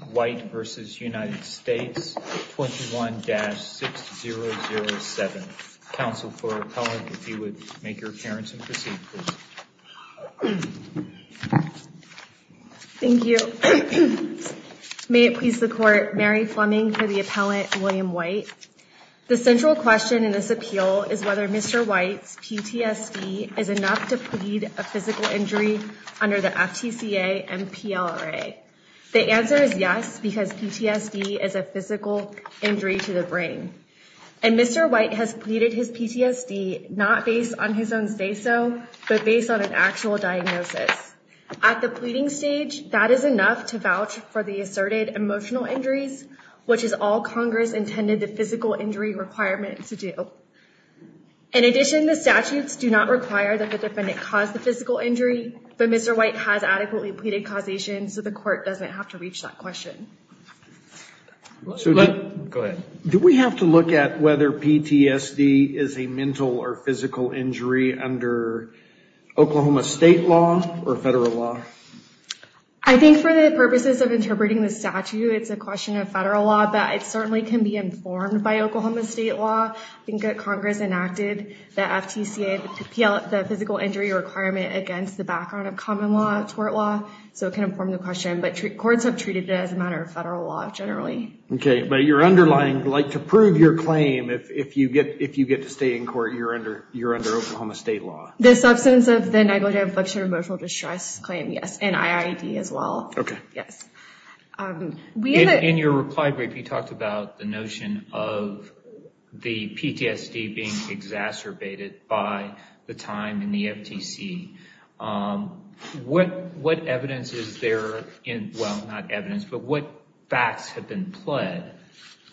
21-6007. Counsel for Appellant, if you would make your appearance and proceed, please. Thank you. May it please the Court, Mary Fleming for the Appellant, William White. The central question in this appeal is whether Mr. White's PTSD is enough to plead a physical injury under the FTCA MPLRA. The answer is yes, because PTSD is a physical injury to the brain. And Mr. White has pleaded his PTSD not based on his own speso, but based on an actual diagnosis. At the pleading stage, that is enough to vouch for the asserted emotional injuries, which is all Congress intended the physical injury requirement to do. In addition, the statutes do not require that the defendant cause the physical injury, but Mr. White has adequately pleaded causation, so the Court doesn't have to reach that question. Go ahead. Do we have to look at whether PTSD is a mental or physical injury under Oklahoma state law or federal law? I think for the purposes of interpreting the statute, it's a question of federal law, but it certainly can be informed by Oklahoma state law. I think that Congress enacted the FTCA, the physical injury requirement against the background of common law, tort law, so it can inform the question. But courts have treated it as a matter of federal law generally. Okay, but your underlying, like to prove your claim, if you get to stay in court, you're under Oklahoma state law. The substance of the negative emotional distress claim, yes, and IID as well. Okay. Yes. In your reply brief, you talked about the notion of the PTSD being exacerbated by the time in the FTC. What evidence is there in, well, not evidence, but what facts have been pled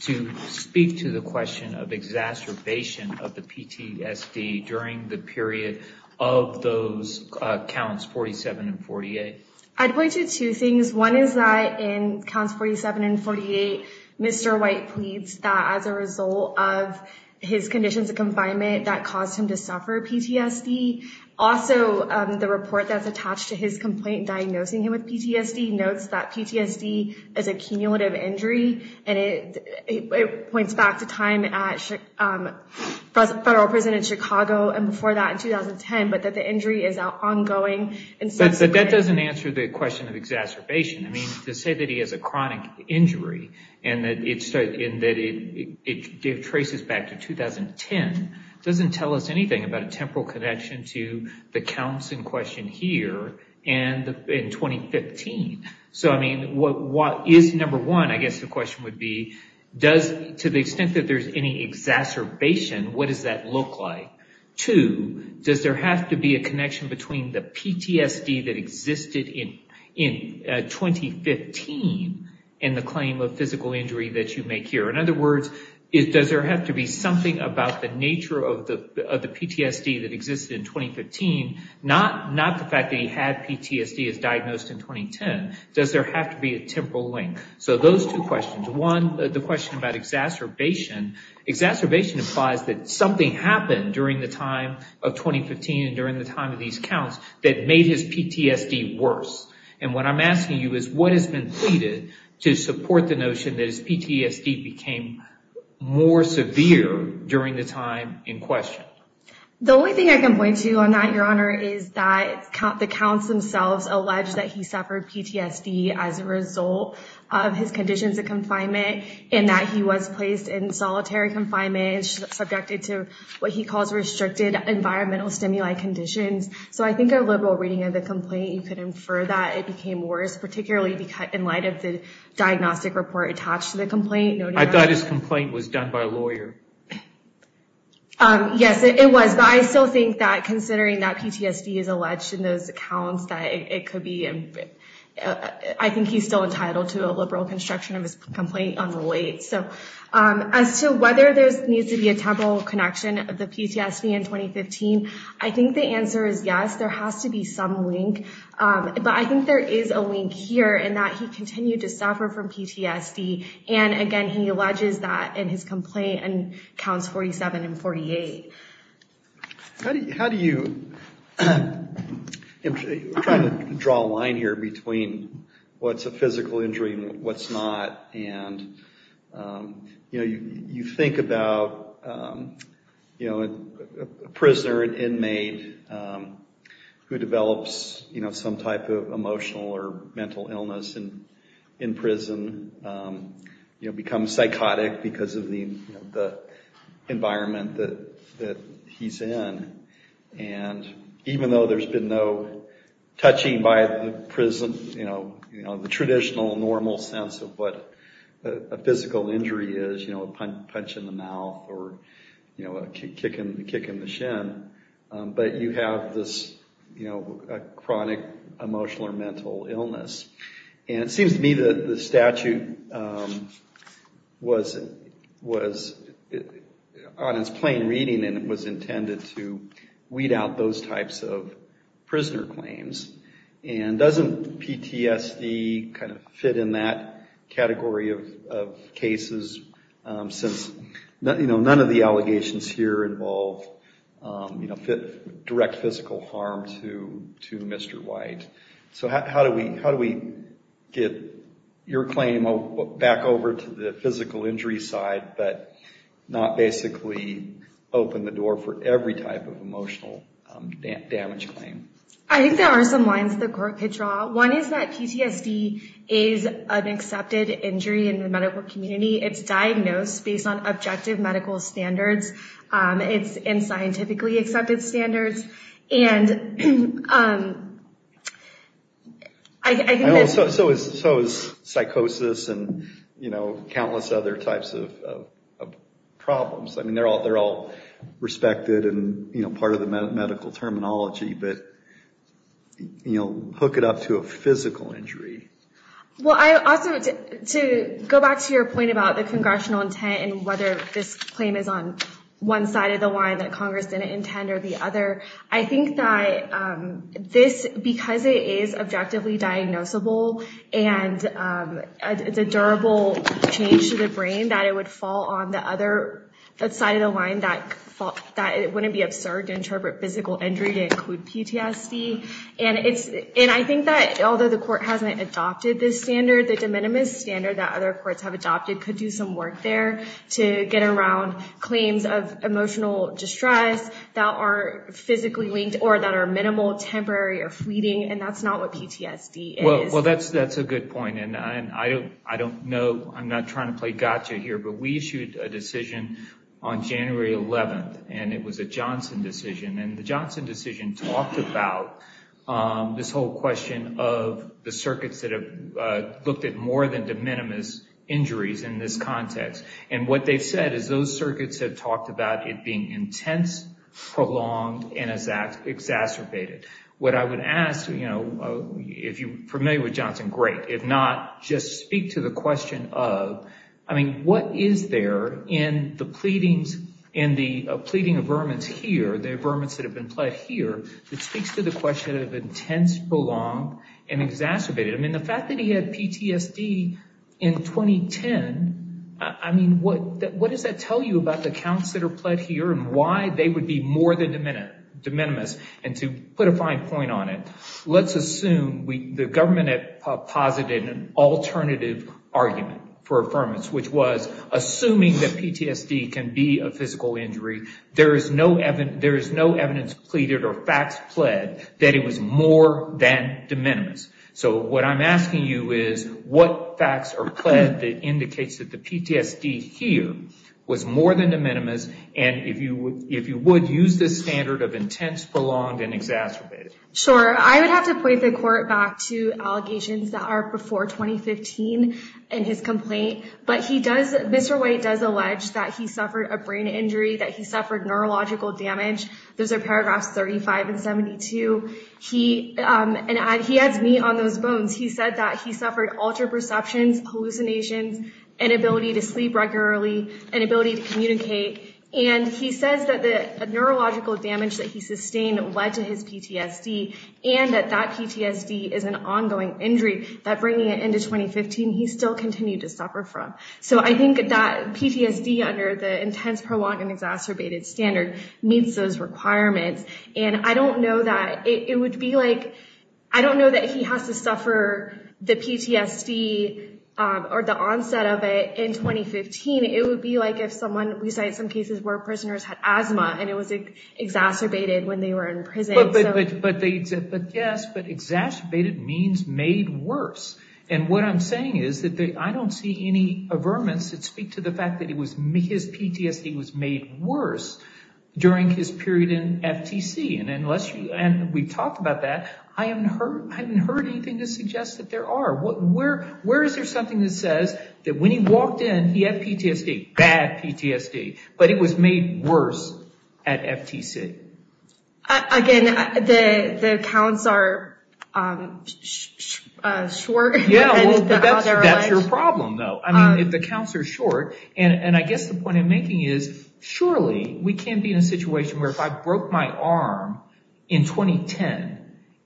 to speak to the question of exacerbation of the PTSD during the period of those counts 47 and 48? I'd point to two things. One is that in counts 47 and 48, Mr. White pleads that as a result of his conditions of confinement, that caused him to suffer PTSD. Also, the report that's attached to his complaint diagnosing him with PTSD notes that PTSD is a cumulative injury, and it points back to time at federal prison in Chicago and before that in 2010, but that the injury is ongoing. But that doesn't answer the question of exacerbation. I mean, to say that he has a chronic injury and that it traces back to 2010 doesn't tell us anything about a temporal connection to the counts in question here and in 2015. So, I mean, what is number one, I guess the question would be, to the extent that there's any exacerbation, what does that look like? Two, does there have to be a connection between the PTSD that existed in 2015 and the claim of physical injury that you make here? In other words, does there have to be something about the nature of the PTSD that existed in 2015, not the fact that he had PTSD as diagnosed in 2010, does there have to be a temporal link? So those two questions. One, the question about exacerbation. Exacerbation implies that something happened during the time of 2015 and during the time of these counts that made his PTSD worse. And what I'm asking you is what has been pleaded to support the notion that his PTSD became more severe during the time in question? The only thing I can point to on that, Your Honor, is that the counts themselves allege that he suffered PTSD as a result of his conditions of confinement and that he was placed in solitary confinement, subjected to what he calls restricted environmental stimuli conditions. So I think a liberal reading of the complaint, you could infer that it became worse, particularly in light of the diagnostic report attached to the complaint. I thought his complaint was done by a lawyer. Yes, it was. But I still think that considering that PTSD is alleged in those accounts, that it could be, I think he's still entitled to a liberal construction of his complaint on the late. So as to whether there needs to be a temporal connection of the PTSD in 2015, I think the answer is yes, there has to be some link. But I think there is a link here in that he continued to suffer from PTSD. And again, he alleges that in his complaint and counts 47 and 48. How do you – I'm trying to draw a line here between what's a physical injury and what's not. And you think about a prisoner, an inmate who develops some type of emotional or mental illness in prison, becomes psychotic because of the environment that he's in. And even though there's been no touching by the prison, the traditional, normal sense of what a physical injury is, a punch in the mouth or a kick in the shin, but you have this chronic emotional or mental illness. And it seems to me that the statute was on its plain reading and it was intended to weed out those types of prisoner claims. And doesn't PTSD kind of fit in that category of cases since none of the allegations here involve direct physical harm to Mr. White? So how do we get your claim back over to the physical injury side but not basically open the door for every type of emotional damage claim? I think there are some lines the court could draw. One is that PTSD is an accepted injury in the medical community. It's diagnosed based on objective medical standards. It's in scientifically accepted standards. So is psychosis and countless other types of problems. I mean, they're all respected and part of the medical terminology. But hook it up to a physical injury. Well, I also, to go back to your point about the congressional intent and whether this claim is on one side of the line that Congress didn't intend or the other. I think that this, because it is objectively diagnosable and it's a durable change to the brain, that it would fall on the other side of the line. That it wouldn't be absurd to interpret physical injury to include PTSD. And I think that although the court hasn't adopted this standard, the de minimis standard that other courts have adopted could do some work there to get around claims of emotional distress that are physically linked or that are minimal, temporary, or fleeting. And that's not what PTSD is. Well, that's a good point. And I don't know. I'm not trying to play gotcha here. But we issued a decision on January 11. And it was a Johnson decision. And the Johnson decision talked about this whole question of the circuits that have looked at more than de minimis injuries in this context. And what they've said is those circuits have talked about it being intense, prolonged, and exacerbated. What I would ask, if you're familiar with Johnson, great. If not, just speak to the question of, I mean, what is there in the pleadings, in the pleading of vermin here, the vermins that have been pled here, that speaks to the question of intense, prolonged, and exacerbated? I mean, the fact that he had PTSD in 2010, I mean, what does that tell you about the counts that are pled here and why they would be more than de minimis? And to put a fine point on it, let's assume the government had posited an alternative argument for affirmance, which was, assuming that PTSD can be a physical injury, there is no evidence pleaded or facts pled that it was more than de minimis. So what I'm asking you is, what facts are pled that indicates that the PTSD here was more than de minimis? And if you would, use this standard of intense, prolonged, and exacerbated. Sure. I would have to point the court back to allegations that are before 2015 in his complaint. But he does, Mr. White does allege that he suffered a brain injury, that he suffered neurological damage. Those are paragraphs 35 and 72. And he adds meat on those bones. He said that he suffered altered perceptions, hallucinations, inability to sleep regularly, inability to communicate. And he says that the neurological damage that he sustained led to his PTSD and that that PTSD is an ongoing injury, that bringing it into 2015, he still continued to suffer from. So I think that PTSD under the intense, prolonged, and exacerbated standard meets those requirements. And I don't know that it would be like, I don't know that he has to suffer the PTSD or the onset of it in 2015. It would be like if someone, we cite some cases where prisoners had asthma and it was exacerbated when they were in prison. But yes, but exacerbated means made worse. And what I'm saying is that I don't see any averments that speak to the fact that his PTSD was made worse during his period in FTC. And we've talked about that. I haven't heard anything to suggest that there are. Where is there something that says that when he walked in, he had PTSD, bad PTSD, but it was made worse at FTC? Again, the counts are short. Yeah, well, that's your problem, though. I mean, if the counts are short. And I guess the point I'm making is surely we can be in a situation where if I broke my arm in 2010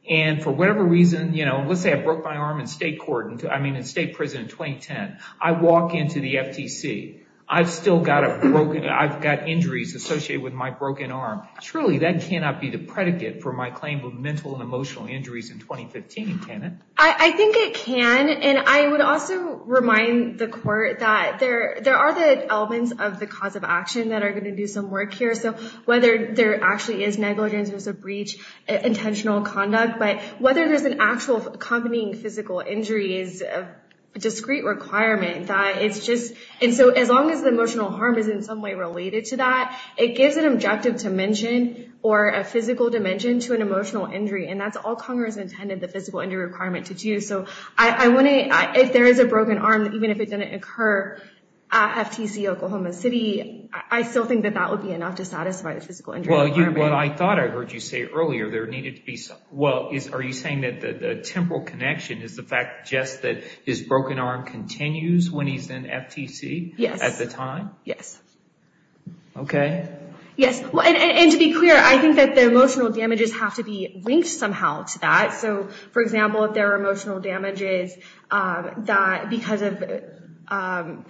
and for whatever reason, you know, let's say I broke my arm in state court. I mean, in state prison in 2010, I walk into the FTC. I've still got it broken. I've got injuries associated with my broken arm. Surely that cannot be the predicate for my claim of mental and emotional injuries in 2015, can it? I think it can. And I would also remind the court that there are the elements of the cause of action that are going to do some work here. So whether there actually is negligence, there's a breach, intentional conduct, but whether there's an actual accompanying physical injury is a discrete requirement. And so as long as the emotional harm is in some way related to that, it gives an objective dimension or a physical dimension to an emotional injury. And that's all Congress intended the physical injury requirement to do. So if there is a broken arm, even if it didn't occur at FTC, Oklahoma City, I still think that that would be enough to satisfy the physical injury requirement. Well, what I thought I heard you say earlier, there needed to be some... Well, are you saying that the temporal connection is the fact just that his broken arm continues when he's in FTC? Yes. At the time? Yes. Okay. Yes. And to be clear, I think that the emotional damages have to be linked somehow to that. So, for example, if there are emotional damages because of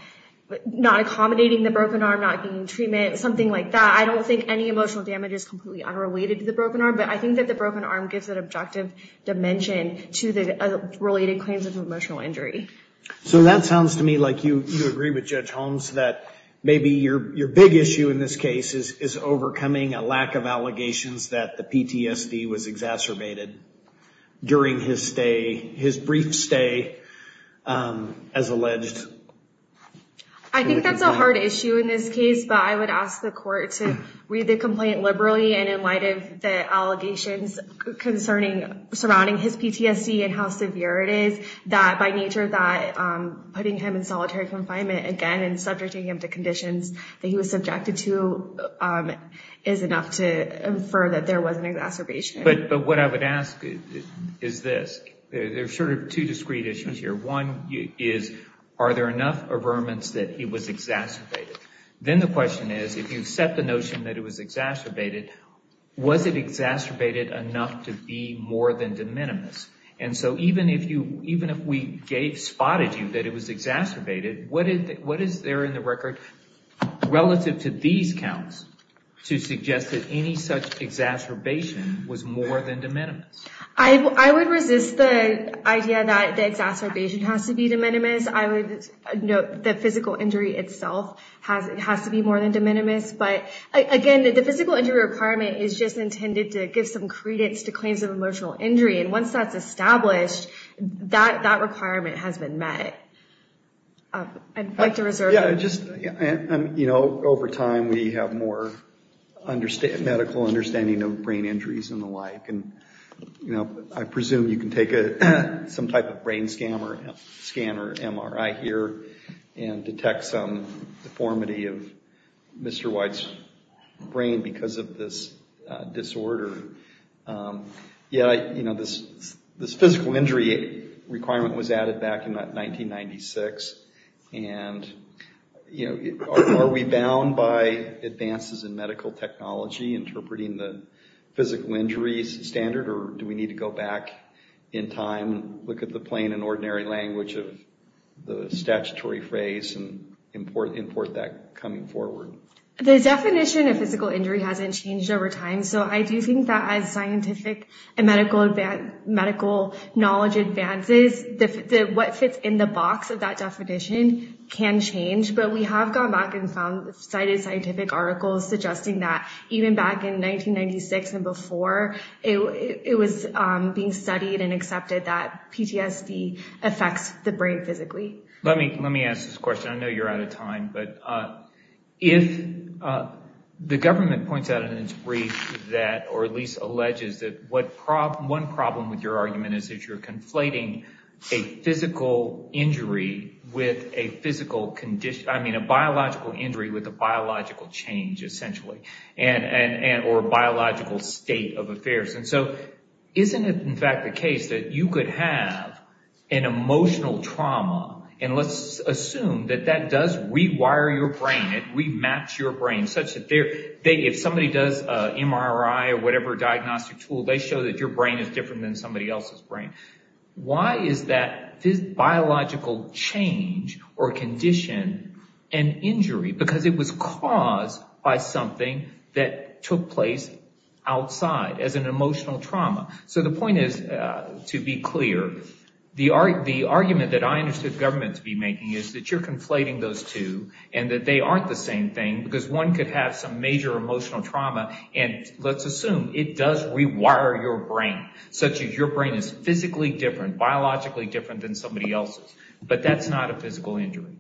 not accommodating the broken arm, not getting treatment, something like that, I don't think any emotional damage is completely unrelated to the broken arm. But I think that the broken arm gives an objective dimension to the related claims of emotional injury. So that sounds to me like you agree with Judge Holmes that maybe your big issue in this case is overcoming a lack of allegations that the PTSD was exacerbated during his stay, his brief stay, as alleged. I think that's a hard issue in this case. But I would ask the court to read the complaint liberally. And in light of the allegations concerning surrounding his PTSD and how severe it is, that by nature, that putting him in solitary confinement again and subjecting him to conditions that he was subjected to is enough to infer that there was an exacerbation. But what I would ask is this. There are sort of two discrete issues here. One is, are there enough averments that it was exacerbated? Then the question is, if you set the notion that it was exacerbated, was it exacerbated enough to be more than de minimis? And so even if we spotted you that it was exacerbated, what is there in the record relative to these counts to suggest that any such exacerbation was more than de minimis? I would resist the idea that the exacerbation has to be de minimis. I would note that physical injury itself has to be more than de minimis. But again, the physical injury requirement is just intended to give some credence to claims of emotional injury. And once that's established, that requirement has been met. I'd like to reserve that. Over time, we have more medical understanding of brain injuries and the like. I presume you can take some type of brain scan or MRI here and detect some deformity of Mr. White's brain because of this disorder. This physical injury requirement was added back in 1996. Are we bound by advances in medical technology interpreting the physical injuries standard? Or do we need to go back in time, look at the plain and ordinary language of the statutory phrase, and import that coming forward? The definition of physical injury hasn't changed over time. So I do think that as scientific and medical knowledge advances, what fits in the box of that definition can change. But we have gone back and cited scientific articles suggesting that even back in 1996 and before, it was being studied and accepted that PTSD affects the brain physically. Let me ask this question. I know you're out of time. The government points out in its brief that or at least alleges that one problem with your argument is that you're conflating a biological injury with a biological change, essentially, or biological state of affairs. So isn't it in fact the case that you could have an emotional trauma, and let's assume that that does rewire your brain and rematch your brain such that if somebody does an MRI or whatever diagnostic tool, they show that your brain is different than somebody else's brain. Why is that biological change or condition an injury? Because it was caused by something that took place outside as an emotional trauma. So the point is, to be clear, the argument that I understood government to be making is that you're conflating those two and that they aren't the same thing because one could have some major emotional trauma, and let's assume it does rewire your brain such that your brain is physically different, biologically different than somebody else's. But that's not a physical injury.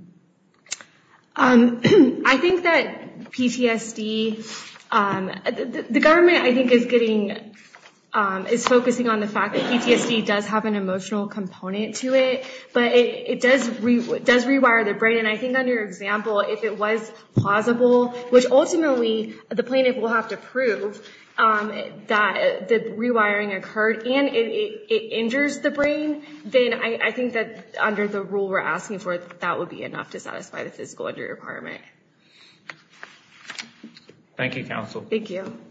I think that PTSD—the government, I think, is focusing on the fact that PTSD does have an emotional component to it, but it does rewire the brain. And I think under your example, if it was plausible, which ultimately the plaintiff will have to prove that the rewiring occurred and it injures the brain, then I think that under the rule we're asking for, that would be enough to satisfy the physical injury department. Thank you, counsel. Thank you. Thank you.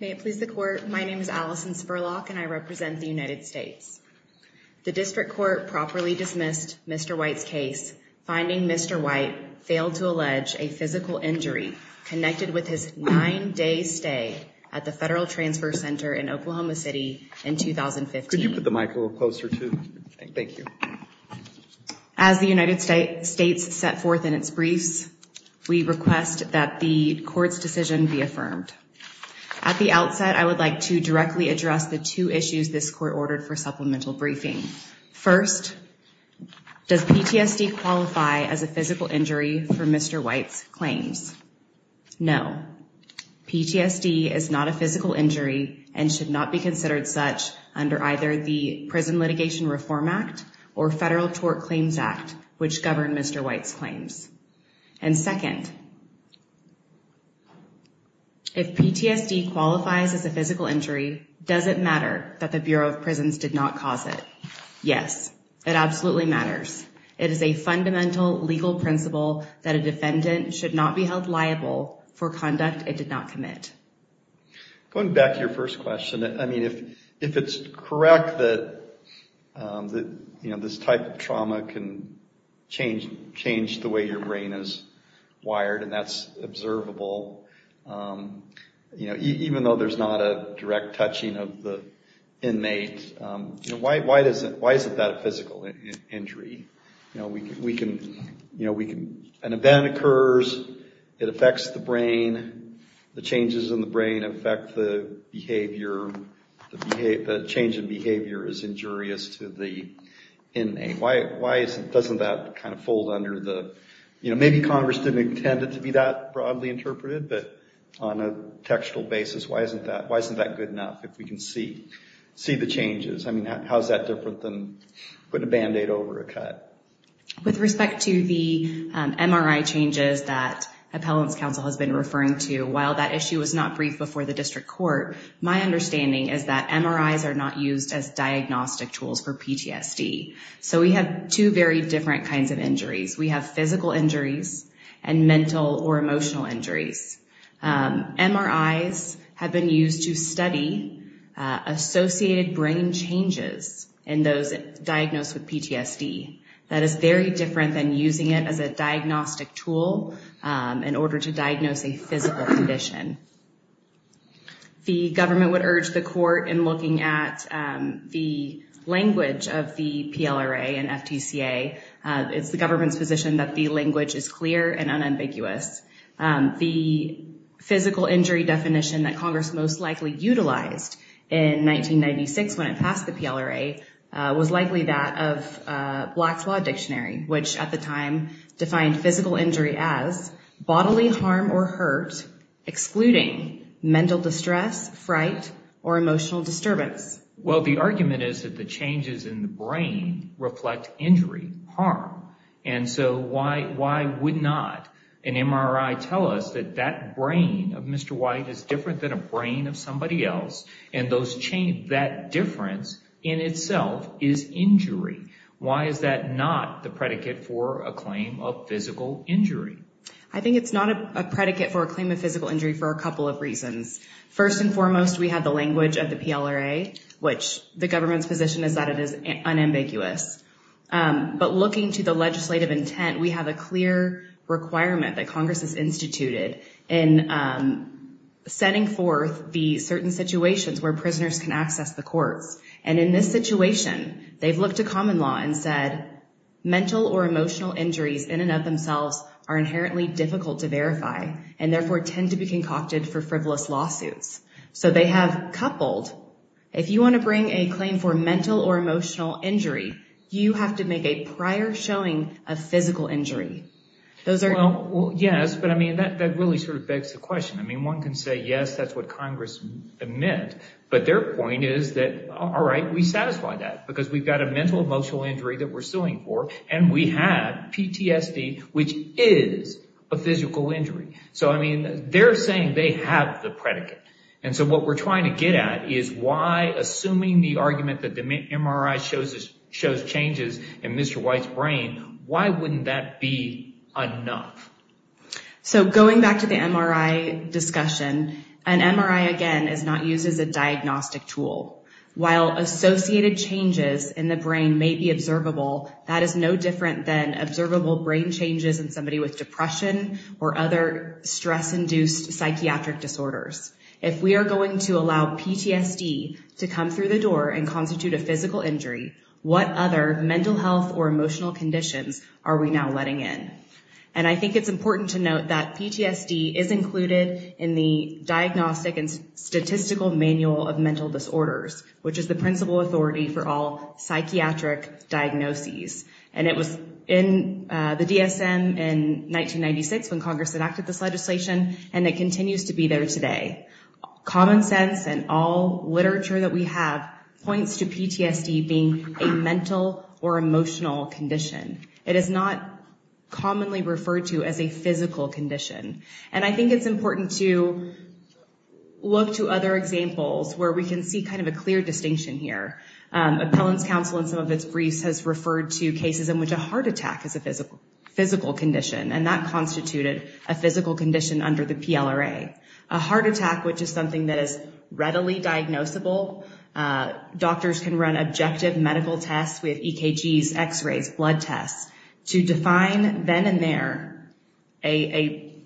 May it please the court, my name is Allison Spurlock and I represent the United States. The district court properly dismissed Mr. White's case, finding Mr. White failed to allege a physical injury connected with his nine-day stay at the Federal Transfer Center in Oklahoma City in 2015. Could you put the mic a little closer, too? Thank you. As the United States set forth in its briefs, we request that the court's decision be affirmed. At the outset, I would like to directly address the two issues this court ordered for supplemental briefing. First, does PTSD qualify as a physical injury for Mr. White's claims? No. PTSD is not a physical injury and should not be considered such under either the Prison Litigation Reform Act or Federal Tort Claims Act, which govern Mr. White's claims. And second, if PTSD qualifies as a physical injury, does it matter that the Bureau of Prisons did not cause it? Yes, it absolutely matters. It is a fundamental legal principle that a defendant should not be held liable for conduct it did not commit. Going back to your first question, I mean, if it's correct that this type of trauma can change the way your brain is wired and that's observable, even though there's not a direct touching of the inmate, why isn't that a physical injury? An event occurs, it affects the brain, the changes in the brain affect the behavior, the change in behavior is injurious to the inmate. Why doesn't that kind of fold under the... Maybe Congress didn't intend it to be that broadly interpreted, but on a textual basis, why isn't that good enough if we can see the changes? I mean, how's that different than putting a Band-Aid over a cut? With respect to the MRI changes that Appellants Council has been referring to, while that issue was not briefed before the District Court, my understanding is that MRIs are not used as diagnostic tools for PTSD. So we have two very different kinds of injuries. We have physical injuries and mental or emotional injuries. MRIs have been used to study associated brain changes in those diagnosed with PTSD. That is very different than using it as a diagnostic tool in order to diagnose a physical condition. The government would urge the court in looking at the language of the PLRA and FTCA. It's the government's position that the language is clear and unambiguous. The physical injury definition that Congress most likely utilized in 1996 when it passed the PLRA was likely that of Black's Law Dictionary, which at the time defined physical injury as bodily harm or hurt excluding mental distress, fright, or emotional disturbance. Well, the argument is that the changes in the brain reflect injury, harm. And so why would not an MRI tell us that that brain of Mr. White is different than a brain of somebody else and that difference in itself is injury? Why is that not the predicate for a claim of physical injury? I think it's not a predicate for a claim of physical injury for a couple of reasons. First and foremost, we have the language of the PLRA, which the government's position is that it is unambiguous. But looking to the legislative intent, we have a clear requirement that Congress has instituted in setting forth the certain situations where prisoners can access the courts. And in this situation, they've looked to common law and said, mental or emotional injuries in and of themselves are inherently difficult to verify and therefore tend to be concocted for frivolous lawsuits. So they have coupled, if you want to bring a claim for mental or emotional injury, you have to make a prior showing of physical injury. Well, yes, but I mean, that really sort of begs the question. I mean, one can say, yes, that's what Congress meant. But their point is that, all right, we satisfy that because we've got a mental, emotional injury that we're suing for and we have PTSD, which is a physical injury. So, I mean, they're saying they have the predicate. And so what we're trying to get at is why, assuming the argument that the MRI shows changes in Mr. White's brain, why wouldn't that be enough? So going back to the MRI discussion, an MRI, again, is not used as a diagnostic tool. While associated changes in the brain may be observable, that is no different than observable brain changes in somebody with depression or other stress-induced psychiatric disorders. If we are going to allow PTSD to come through the door and constitute a physical injury, what other mental health or emotional conditions are we now letting in? And I think it's important to note that PTSD is included in the Diagnostic and Statistical Manual of Mental Disorders, which is the principal authority for all psychiatric diagnoses. And it was in the DSM in 1996 when Congress enacted this legislation, and it continues to be there today. Common sense and all literature that we have points to PTSD being a mental or emotional condition. It is not commonly referred to as a physical condition. And I think it's important to look to other examples where we can see kind of a clear distinction here. Appellant's counsel in some of its briefs has referred to cases in which a heart attack is a physical condition, and that constituted a physical condition under the PLRA. A heart attack, which is something that is readily diagnosable, doctors can run objective medical tests with EKGs, x-rays, blood tests, to define then and there a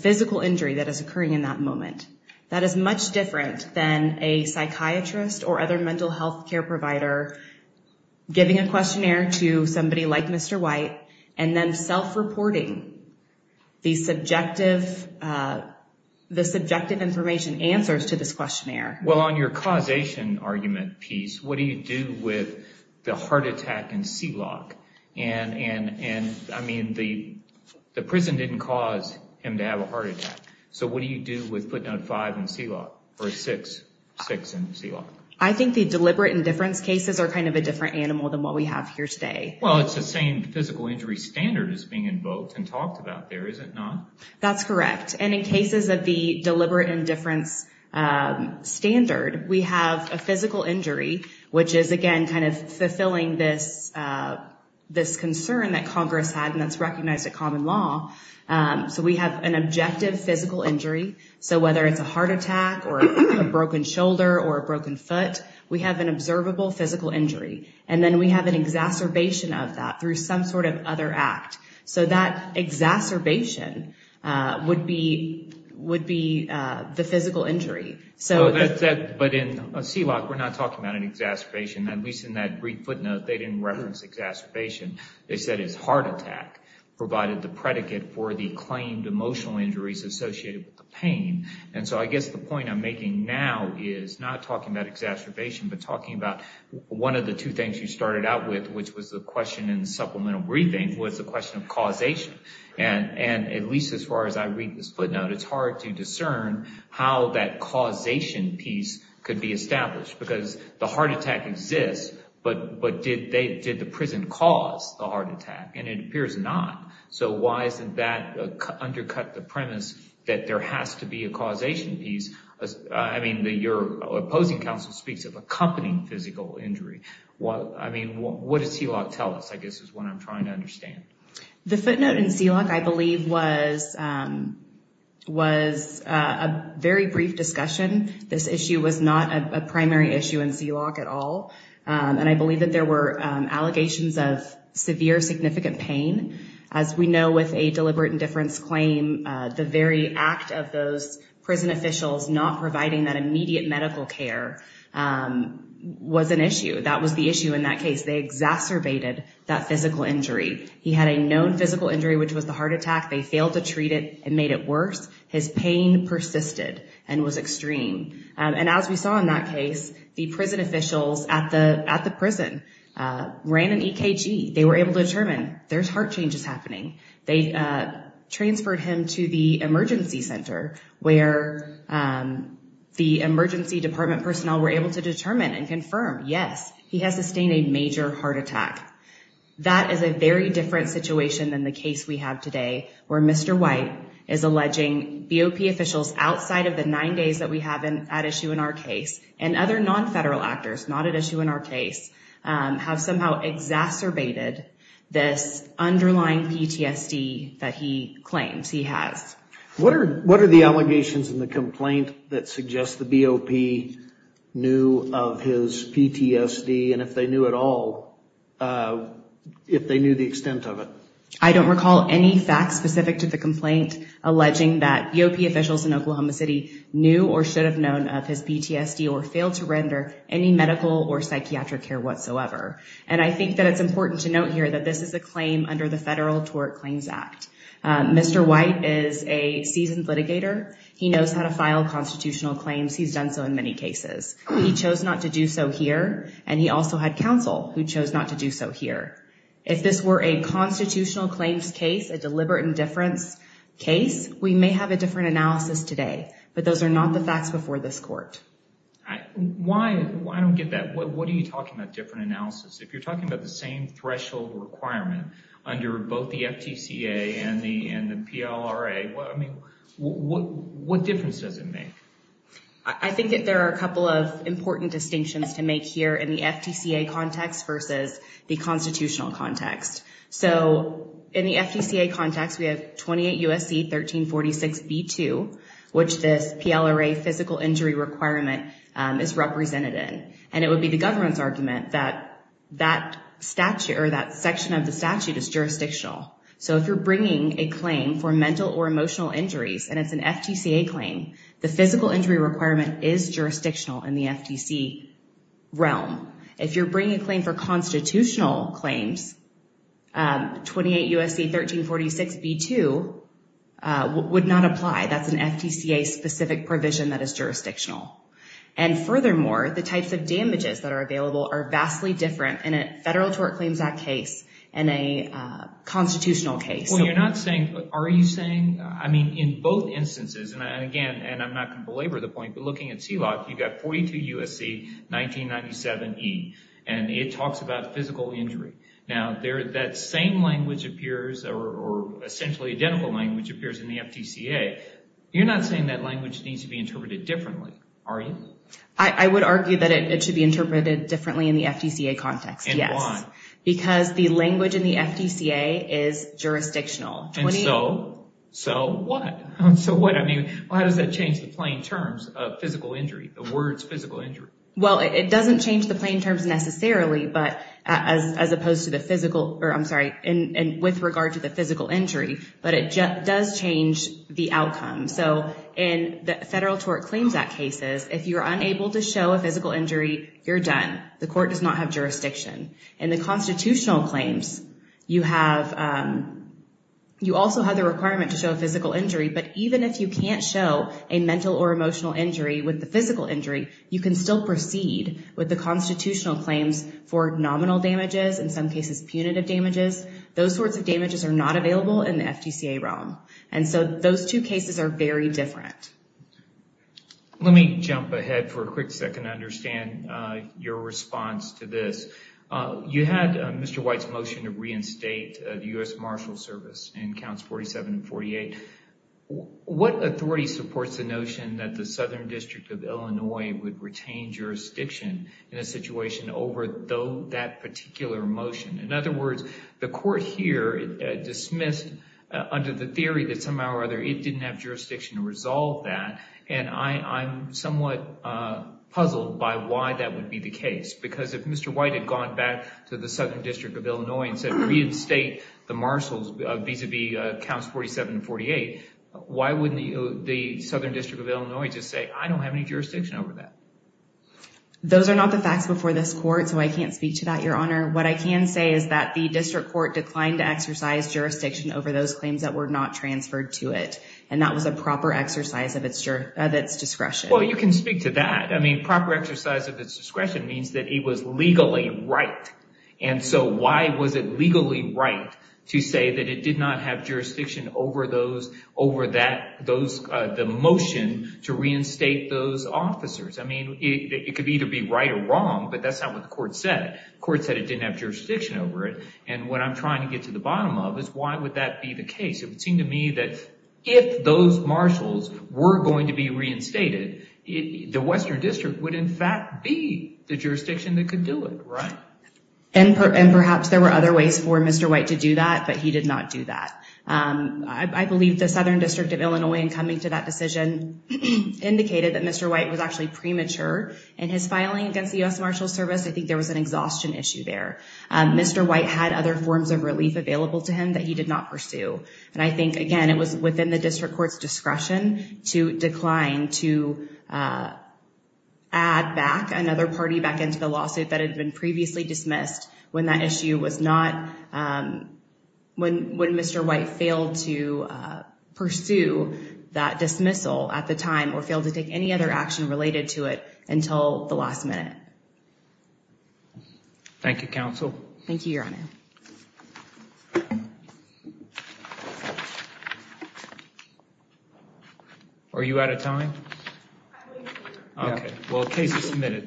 physical injury that is occurring in that moment. That is much different than a psychiatrist or other mental health care provider giving a questionnaire to somebody like Mr. White and then self-reporting the subjective information answers to this questionnaire. Well, on your causation argument piece, what do you do with the heart attack and C-lock? And, I mean, the prison didn't cause him to have a heart attack. So what do you do with footnote 5 and C-lock, or 6 and C-lock? I think the deliberate indifference cases are kind of a different animal than what we have here today. Well, it's the same physical injury standard as being invoked and talked about there, is it not? That's correct. And in cases of the deliberate indifference standard, we have a physical injury, which is, again, kind of fulfilling this concern that Congress had and that's recognized at common law. So we have an objective physical injury. So whether it's a heart attack or a broken shoulder or a broken foot, we have an observable physical injury. And then we have an exacerbation of that through some sort of other act. So that exacerbation would be the physical injury. But in C-lock, we're not talking about an exacerbation. At least in that brief footnote, they didn't reference exacerbation. They said his heart attack provided the predicate for the claimed emotional injuries associated with the pain. And so I guess the point I'm making now is not talking about exacerbation, but talking about one of the two things you started out with, which was the question in supplemental briefing was the question of causation. And at least as far as I read this footnote, it's hard to discern how that causation piece could be established because the heart attack exists, but did the prison cause the heart attack? And it appears not. So why isn't that undercut the premise that there has to be a causation piece? I mean, your opposing counsel speaks of accompanying physical injury. I mean, what does C-lock tell us? I guess is what I'm trying to understand. The footnote in C-lock, I believe, was a very brief discussion. This issue was not a primary issue in C-lock at all. And I believe that there were allegations of severe significant pain. As we know with a deliberate indifference claim, the very act of those prison officials not providing that immediate medical care was an issue. That was the issue in that case. They exacerbated that physical injury. He had a known physical injury, which was the heart attack. They failed to treat it and made it worse. His pain persisted and was extreme. And as we saw in that case, the prison officials at the prison ran an EKG. They were able to determine there's heart changes happening. They transferred him to the emergency center, where the emergency department personnel were able to determine and confirm, yes, he has sustained a major heart attack. That is a very different situation than the case we have today, where Mr. White is alleging BOP officials outside of the nine days that we have at issue in our case, and other non-federal actors not at issue in our case, have somehow exacerbated this underlying PTSD that he claims he has. What are the allegations in the complaint that suggest the BOP knew of his PTSD, and if they knew at all, if they knew the extent of it? I don't recall any facts specific to the complaint alleging that BOP officials in Oklahoma City knew or should have known of his PTSD or failed to render any medical or psychiatric care whatsoever. And I think that it's important to note here that this is a claim under the Federal Tort Claims Act. Mr. White is a seasoned litigator. He knows how to file constitutional claims. He's done so in many cases. He chose not to do so here, and he also had counsel who chose not to do so here. If this were a constitutional claims case, a deliberate indifference case, we may have a different analysis today. But those are not the facts before this court. I don't get that. What are you talking about, different analysis? If you're talking about the same threshold requirement under both the FTCA and the PLRA, I mean, what difference does it make? I think that there are a couple of important distinctions to make here in the FTCA context versus the constitutional context. So in the FTCA context, we have 28 U.S.C. 1346b2, which this PLRA physical injury requirement is represented in. And it would be the government's argument that that statute or that section of the statute is jurisdictional. So if you're bringing a claim for mental or emotional injuries and it's an FTCA claim, the physical injury requirement is jurisdictional in the FTC realm. If you're bringing a claim for constitutional claims, 28 U.S.C. 1346b2 would not apply. That's an FTCA-specific provision that is jurisdictional. And furthermore, the types of damages that are available are vastly different in a Federal Tort Claims Act case and a constitutional case. Well, you're not saying, are you saying, I mean, in both instances, and again, and I'm not going to belabor the point, but looking at CLOC, you've got 42 U.S.C. 1997e, and it talks about physical injury. Now, that same language appears or essentially identical language appears in the FTCA. You're not saying that language needs to be interpreted differently, are you? I would argue that it should be interpreted differently in the FTCA context, yes. And why? Because the language in the FTCA is jurisdictional. And so, so what? So what, I mean, well, how does that change the plain terms of physical injury, the words physical injury? Well, it doesn't change the plain terms necessarily, but as opposed to the physical, or I'm sorry, and with regard to the physical injury, but it does change the outcome. So in the Federal Tort Claims Act cases, if you're unable to show a physical injury, you're done. The court does not have jurisdiction. In the constitutional claims, you have, you also have the requirement to show a physical injury. But even if you can't show a mental or emotional injury with the physical injury, you can still proceed with the constitutional claims for nominal damages, in some cases punitive damages. Those sorts of damages are not available in the FTCA realm. And so those two cases are very different. Let me jump ahead for a quick second to understand your response to this. You had Mr. White's motion to reinstate the U.S. Marshals Service in counts 47 and 48. What authority supports the notion that the Southern District of Illinois would retain jurisdiction in a situation over that particular motion? In other words, the court here dismissed under the theory that somehow or other it didn't have jurisdiction to resolve that, and I'm somewhat puzzled by why that would be the case. Because if Mr. White had gone back to the Southern District of Illinois and said reinstate the marshals vis-a-vis counts 47 and 48, why wouldn't the Southern District of Illinois just say, I don't have any jurisdiction over that? Those are not the facts before this court, so I can't speak to that, Your Honor. What I can say is that the district court declined to exercise jurisdiction over those claims that were not transferred to it. And that was a proper exercise of its discretion. Well, you can speak to that. I mean, proper exercise of its discretion means that it was legally right. And so why was it legally right to say that it did not have jurisdiction over the motion to reinstate those officers? I mean, it could either be right or wrong, but that's not what the court said. The court said it didn't have jurisdiction over it. And what I'm trying to get to the bottom of is why would that be the case? It would seem to me that if those marshals were going to be reinstated, the Western District would in fact be the jurisdiction that could do it, right? And perhaps there were other ways for Mr. White to do that, but he did not do that. I believe the Southern District of Illinois, in coming to that decision, indicated that Mr. White was actually premature in his filing against the U.S. Marshals Service. I think there was an exhaustion issue there. Mr. White had other forms of relief available to him that he did not pursue. And I think, again, it was within the district court's discretion to decline to add back another party back into the lawsuit that had been previously dismissed when that issue was not, when Mr. White failed to pursue that dismissal at the time or failed to take any other action related to it until the last minute. Thank you, counsel. Thank you, Your Honor. Are you out of time? I believe so. Okay. Well, the case is submitted.